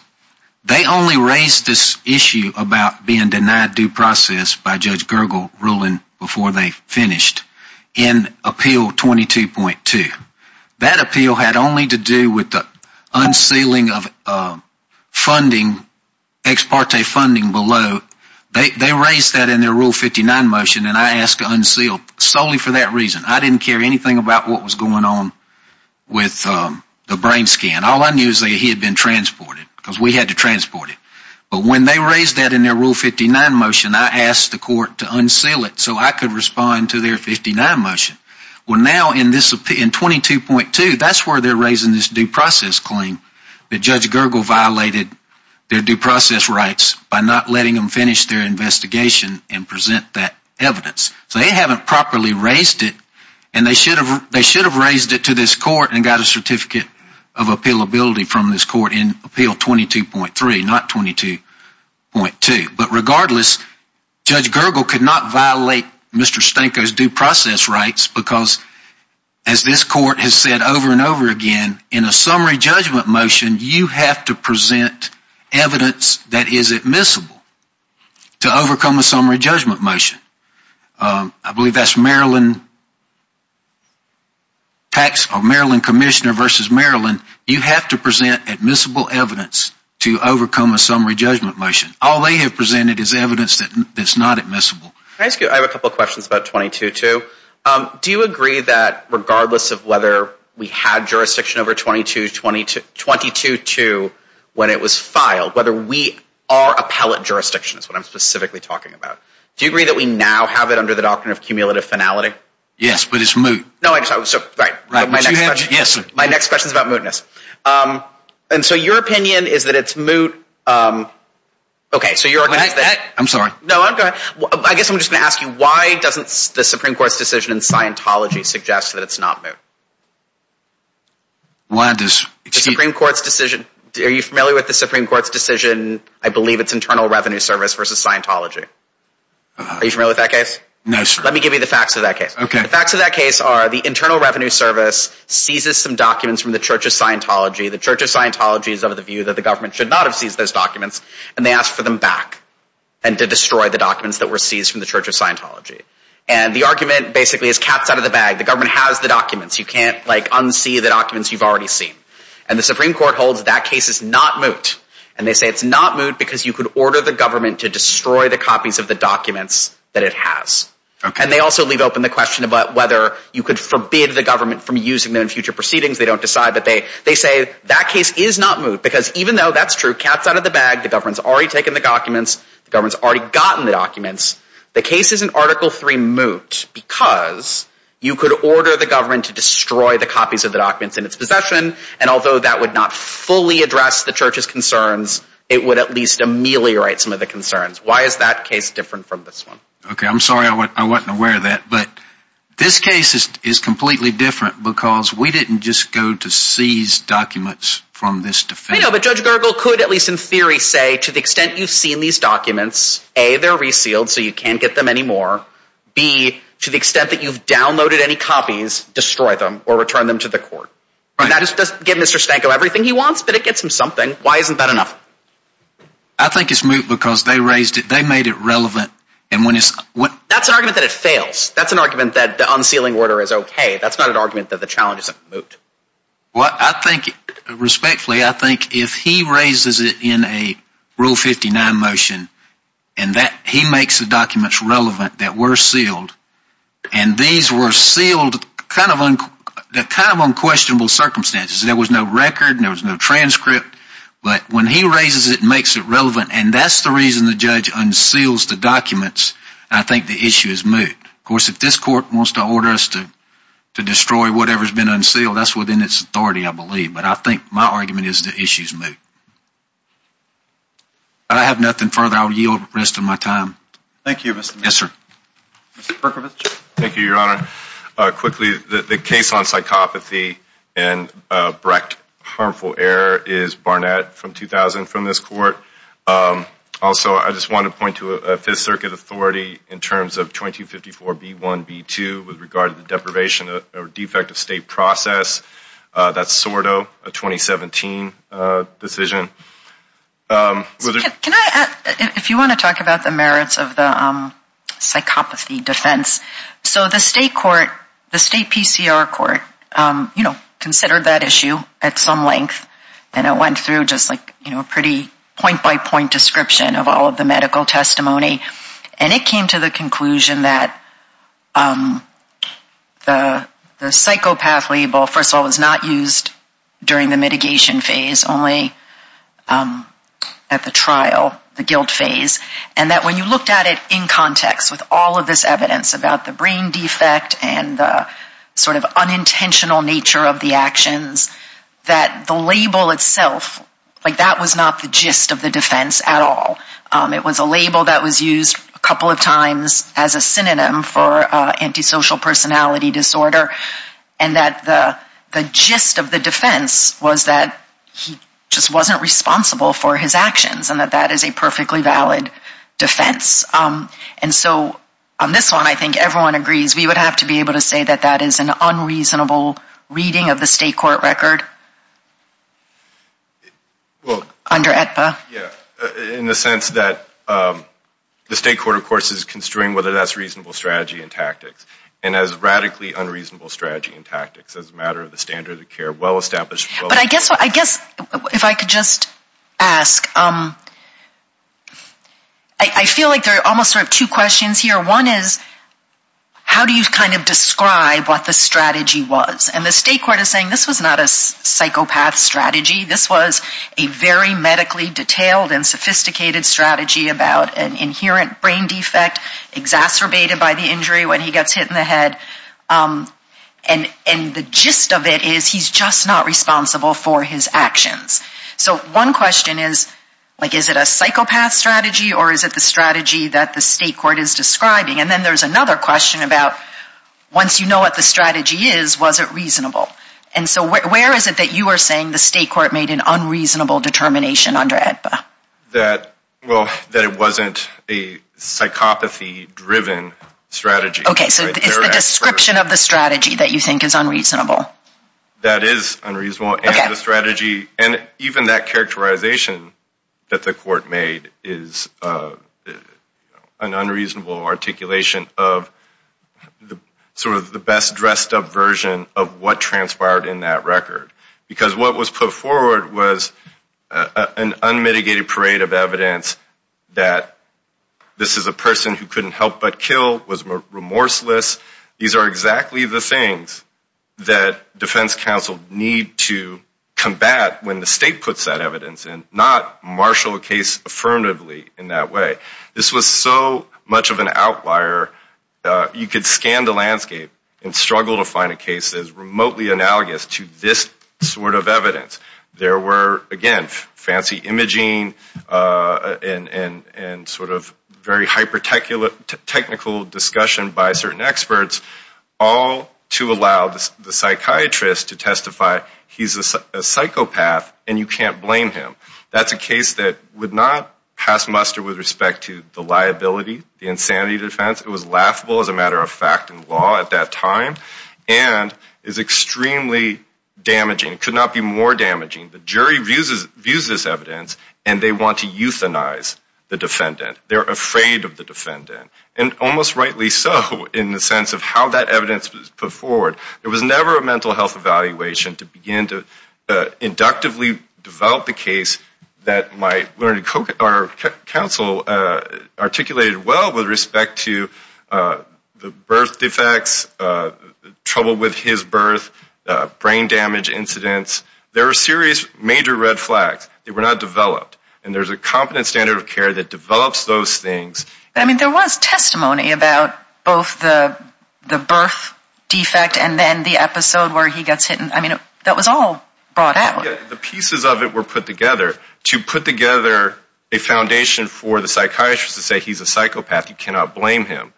they only raised this issue about being denied due process by Judge Gergel ruling before they finished in Appeal 22.2. That appeal had only to do with the unsealing of funding, ex parte funding below. They raised that in their Rule 59 motion, and I asked to unseal solely for that reason. I didn't care anything about what was going on with the brain scan. All I knew is that he had been transported because we had to transport him. But when they raised that in their Rule 59 motion, I asked the court to unseal it so I could respond to their 59 motion. Well, now in 22.2, that's where they're raising this due process claim that Judge Gergel violated their due process rights by not letting them finish their investigation and present that evidence. So they haven't properly raised it, and they should have raised it to this court and got a certificate of appealability from this court in Appeal 22.3, not 22.2. But regardless, Judge Gergel could not violate Mr. Stanko's due process rights because, as this court has said over and over again, in a summary judgment motion you have to present evidence that is admissible to overcome a summary judgment motion. I believe that's Maryland Commissioner v. Maryland. You have to present admissible evidence to overcome a summary judgment motion. All they have presented is evidence that's not admissible. I have a couple of questions about 22.2. Do you agree that regardless of whether we had jurisdiction over 22.2 when it was filed, whether we are appellate jurisdiction is what I'm specifically talking about, do you agree that we now have it under the doctrine of cumulative finality? Yes, but it's moot. No, I just, so, right. But you have, yes. My next question is about mootness. And so your opinion is that it's moot. Okay, so you're going to ask that. I'm sorry. No, go ahead. I guess I'm just going to ask you, why doesn't the Supreme Court's decision in Scientology suggest that it's not moot? Why does, excuse me? Are you familiar with the Supreme Court's decision? I believe it's Internal Revenue Service versus Scientology. Are you familiar with that case? No, sir. Let me give you the facts of that case. Okay. The facts of that case are the Internal Revenue Service seizes some documents from the Church of Scientology. The Church of Scientology is of the view that the government should not have seized those documents. And they asked for them back and to destroy the documents that were seized from the Church of Scientology. And the argument basically is cats out of the bag. The government has the documents. You can't, like, unsee the documents you've already seen. And the Supreme Court holds that case is not moot. And they say it's not moot because you could order the government to destroy the copies of the documents that it has. And they also leave open the question about whether you could forbid the government from using them in future proceedings. They don't decide. But they say that case is not moot because even though that's true, cats out of the bag, the government's already taken the documents, the government's already gotten the documents, the case isn't Article III moot because you could order the government to destroy the copies of the documents in its possession and although that would not fully address the Church's concerns, it would at least ameliorate some of the concerns. Why is that case different from this one? Okay, I'm sorry I wasn't aware of that. But this case is completely different because we didn't just go to seize documents from this defense. I know, but Judge Gergel could at least in theory say, to the extent you've seen these documents, A, they're resealed so you can't get them anymore. B, to the extent that you've downloaded any copies, destroy them or return them to the court. That doesn't give Mr. Stanko everything he wants, but it gets him something. Why isn't that enough? I think it's moot because they raised it. They made it relevant. That's an argument that it fails. That's an argument that the unsealing order is okay. That's not an argument that the challenge isn't moot. Well, I think, respectfully, I think if he raises it in a Rule 59 motion and he makes the documents relevant that were sealed and these were sealed kind of unquestionable circumstances. There was no record. There was no transcript. But when he raises it and makes it relevant, and that's the reason the judge unseals the documents, I think the issue is moot. Of course, if this court wants to order us to destroy whatever has been unsealed, that's within its authority, I believe. But I think my argument is the issue is moot. I have nothing further. I will yield the rest of my time. Thank you. Yes, sir. Mr. Perkovich. Thank you, Your Honor. Quickly, the case on psychopathy and Brecht harmful error is Barnett from 2000 from this court. Also, I just want to point to a Fifth Circuit authority in terms of 2254B1B2 with regard to the deprivation or defect of state process. That's sort of a 2017 decision. If you want to talk about the merits of the psychopathy defense, so the state court, the state PCR court, you know, considered that issue at some length, and it went through just like, you know, a pretty point-by-point description of all of the medical testimony, and it came to the conclusion that the psychopath label, first of all, was not used during the mitigation phase, only at the trial, the guilt phase, and that when you looked at it in context with all of this evidence about the brain defect and the sort of unintentional nature of the actions, that the label itself, like that was not the gist of the defense at all. It was a label that was used a couple of times as a synonym for antisocial personality disorder, and that the gist of the defense was that he just wasn't responsible for his actions and that that is a perfectly valid defense. And so on this one, I think everyone agrees we would have to be able to say that that is an unreasonable reading of the state court record under AEDPA. Yeah, in the sense that the state court, of course, is construing whether that's reasonable strategy and tactics, and has radically unreasonable strategy and tactics as a matter of the standard of care, well established. But I guess if I could just ask, I feel like there are almost sort of two questions here. One is how do you kind of describe what the strategy was? And the state court is saying this was not a psychopath strategy. This was a very medically detailed and sophisticated strategy about an inherent brain defect exacerbated by the injury when he gets hit in the head. And the gist of it is he's just not responsible for his actions. So one question is, like, is it a psychopath strategy or is it the strategy that the state court is describing? And then there's another question about once you know what the strategy is, was it reasonable? And so where is it that you are saying the state court made an unreasonable determination under AEDPA? Well, that it wasn't a psychopathy-driven strategy. Okay, so it's the description of the strategy that you think is unreasonable. That is unreasonable, and the strategy, and even that characterization that the court made is an unreasonable articulation of sort of the best-dressed-up version of what transpired in that record. Because what was put forward was an unmitigated parade of evidence that this is a person who couldn't help but kill, was remorseless. These are exactly the things that defense counsel need to combat when the state puts that evidence in, not marshal a case affirmatively in that way. This was so much of an outlier. You could scan the landscape and struggle to find a case that is remotely analogous to this sort of evidence. There were, again, fancy imaging and sort of very hyper-technical discussion by certain experts all to allow the psychiatrist to testify he's a psychopath and you can't blame him. That's a case that would not pass muster with respect to the liability, the insanity defense. It was laughable as a matter of fact in law at that time, and is extremely damaging. It could not be more damaging. The jury views this evidence, and they want to euthanize the defendant. They're afraid of the defendant, and almost rightly so in the sense of how that evidence was put forward. There was never a mental health evaluation to begin to inductively develop a case that might learn. Our counsel articulated well with respect to the birth defects, trouble with his birth, brain damage incidents. There are serious major red flags. They were not developed, and there's a competent standard of care that develops those things. I mean, there was testimony about both the birth defect and then the episode where he gets hit. I mean, that was all brought out. The pieces of it were put together to put together a foundation for the psychiatrist to say he's a psychopath. You cannot blame him,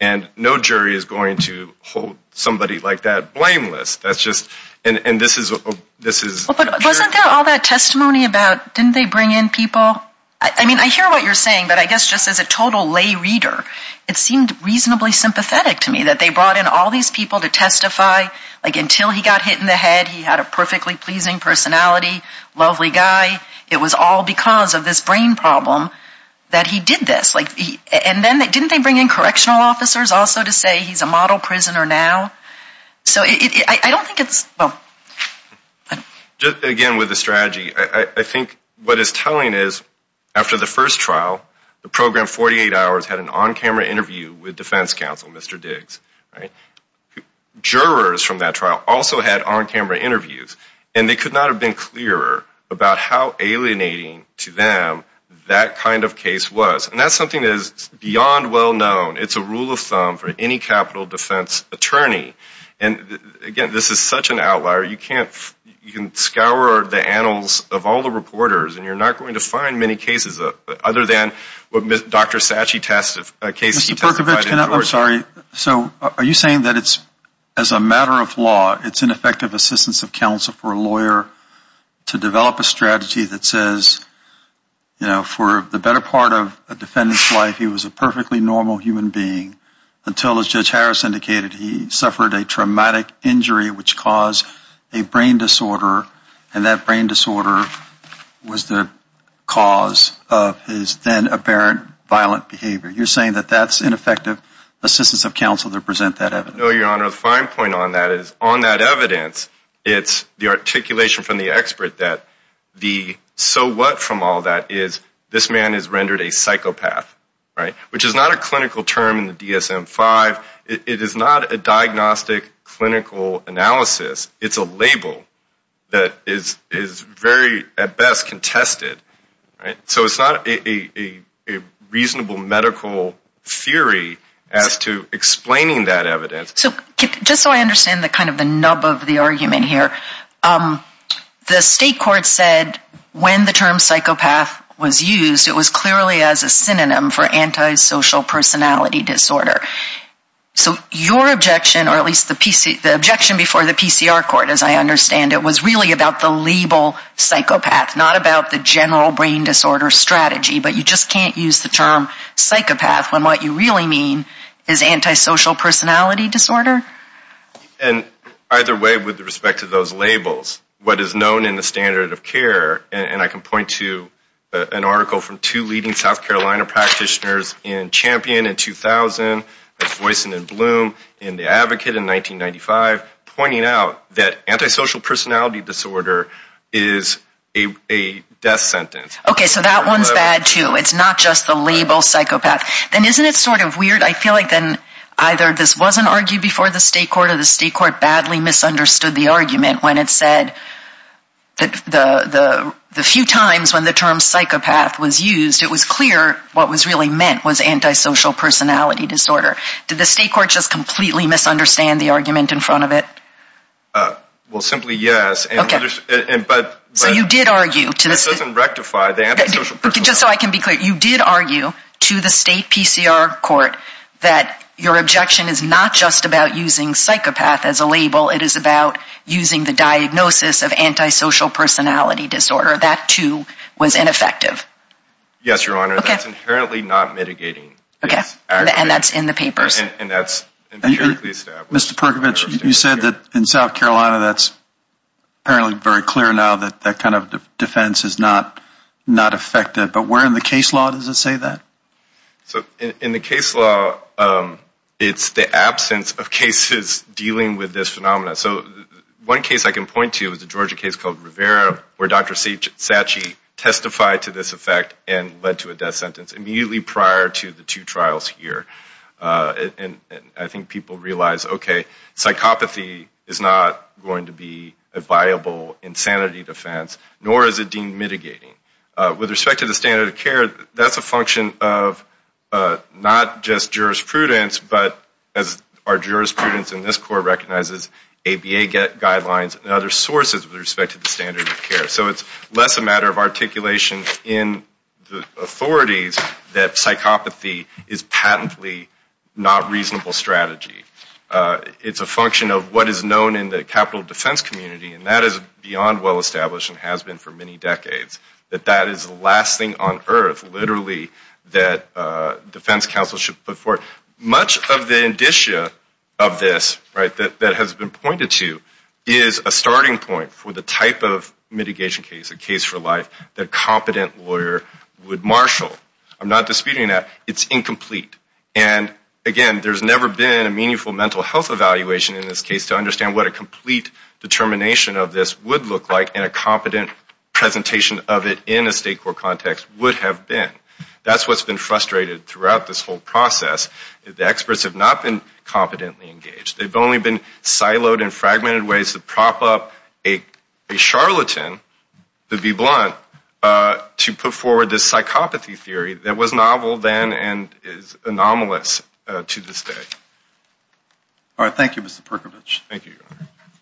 and no jury is going to hold somebody like that blameless. That's just, and this is... Wasn't there all that testimony about didn't they bring in people? I mean, I hear what you're saying, but I guess just as a total lay reader, it seemed reasonably sympathetic to me that they brought in all these people to testify until he got hit in the head. He had a perfectly pleasing personality, lovely guy. It was all because of this brain problem that he did this. And then didn't they bring in correctional officers also to say he's a model prisoner now? So I don't think it's... Just again with the strategy, I think what it's telling is after the first trial, the program 48 hours had an on-camera interview with defense counsel, Mr. Diggs. Jurors from that trial also had on-camera interviews, and they could not have been clearer about how alienating to them that kind of case was. And that's something that is beyond well-known. It's a rule of thumb for any capital defense attorney. And again, this is such an outlier. You can scour the annals of all the reporters, and you're not going to find many cases other than what Dr. Satche testified in Georgia. Mr. Perkovich, I'm sorry. So are you saying that as a matter of law, it's an effective assistance of counsel for a lawyer to develop a strategy that says, you know, for the better part of a defendant's life, he was a perfectly normal human being until, as Judge Harris indicated, he suffered a traumatic injury which caused a brain disorder, and that brain disorder was the cause of his then apparent violent behavior? You're saying that that's ineffective assistance of counsel to present that evidence? No, Your Honor. The fine point on that is on that evidence, it's the articulation from the expert that the so what from all that is, this man is rendered a psychopath, right, which is not a clinical term in the DSM-5. It is not a diagnostic clinical analysis. It's a label that is very, at best, contested. So it's not a reasonable medical theory as to explaining that evidence. So just so I understand the kind of the nub of the argument here, the state court said when the term psychopath was used, it was clearly as a synonym for antisocial personality disorder. So your objection, or at least the objection before the PCR court, as I understand it, was really about the label psychopath, not about the general brain disorder strategy, but you just can't use the term psychopath when what you really mean is antisocial personality disorder? And either way, with respect to those labels, what is known in the standard of care, and I can point to an article from two leading South Carolina practitioners in Champion in 2000, Voisin and Bloom, and the Advocate in 1995, pointing out that antisocial personality disorder is a death sentence. Okay, so that one's bad, too. It's not just the label psychopath. Then isn't it sort of weird, I feel like then either this wasn't argued before the state court or the state court badly misunderstood the argument when it said the few times when the term psychopath was used, it was clear what was really meant was antisocial personality disorder. Did the state court just completely misunderstand the argument in front of it? Well, simply yes. Okay. This doesn't rectify the antisocial personality disorder. It is about using the diagnosis of antisocial personality disorder. That, too, was ineffective. Yes, Your Honor. Okay. That's inherently not mitigating. Okay. And that's in the papers. And that's empirically established. Mr. Perkovich, you said that in South Carolina that's apparently very clear now that that kind of defense is not effective. But where in the case law does it say that? So in the case law, it's the absence of cases dealing with this phenomenon. So one case I can point to is the Georgia case called Rivera where Dr. Sachi testified to this effect and led to a death sentence immediately prior to the two trials here. And I think people realize, okay, psychopathy is not going to be a viable insanity defense, nor is it deemed mitigating. With respect to the standard of care, that's a function of not just jurisprudence, but as our jurisprudence in this court recognizes ABA guidelines and other sources with respect to the standard of care. So it's less a matter of articulation in the authorities that psychopathy is patently not a reasonable strategy. It's a function of what is known in the capital defense community, and that is beyond well established and has been for many decades, that that is the last thing on earth literally that defense counsel should put forth. Much of the indicia of this that has been pointed to is a starting point for the type of mitigation case, a case for life, that a competent lawyer would marshal. I'm not disputing that. It's incomplete. And, again, there's never been a meaningful mental health evaluation in this case to understand what a complete determination of this would look like and a competent presentation of it in a state court context would have been. That's what's been frustrated throughout this whole process. The experts have not been competently engaged. They've only been siloed in fragmented ways to prop up a charlatan, to be blunt, to put forward this psychopathy theory that was novel then and is anomalous to this day. All right. Thank you, Mr. Perkovich. Thank you.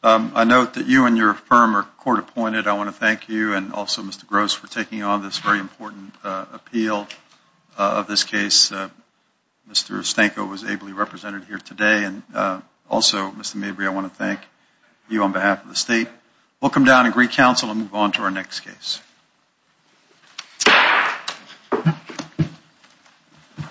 I note that you and your firm are court appointed. I want to thank you and also Mr. Gross for taking on this very important appeal of this case. Mr. Stanko was ably represented here today. And also, Mr. Mabry, I want to thank you on behalf of the state. We'll come down and recounsel and move on to our next case.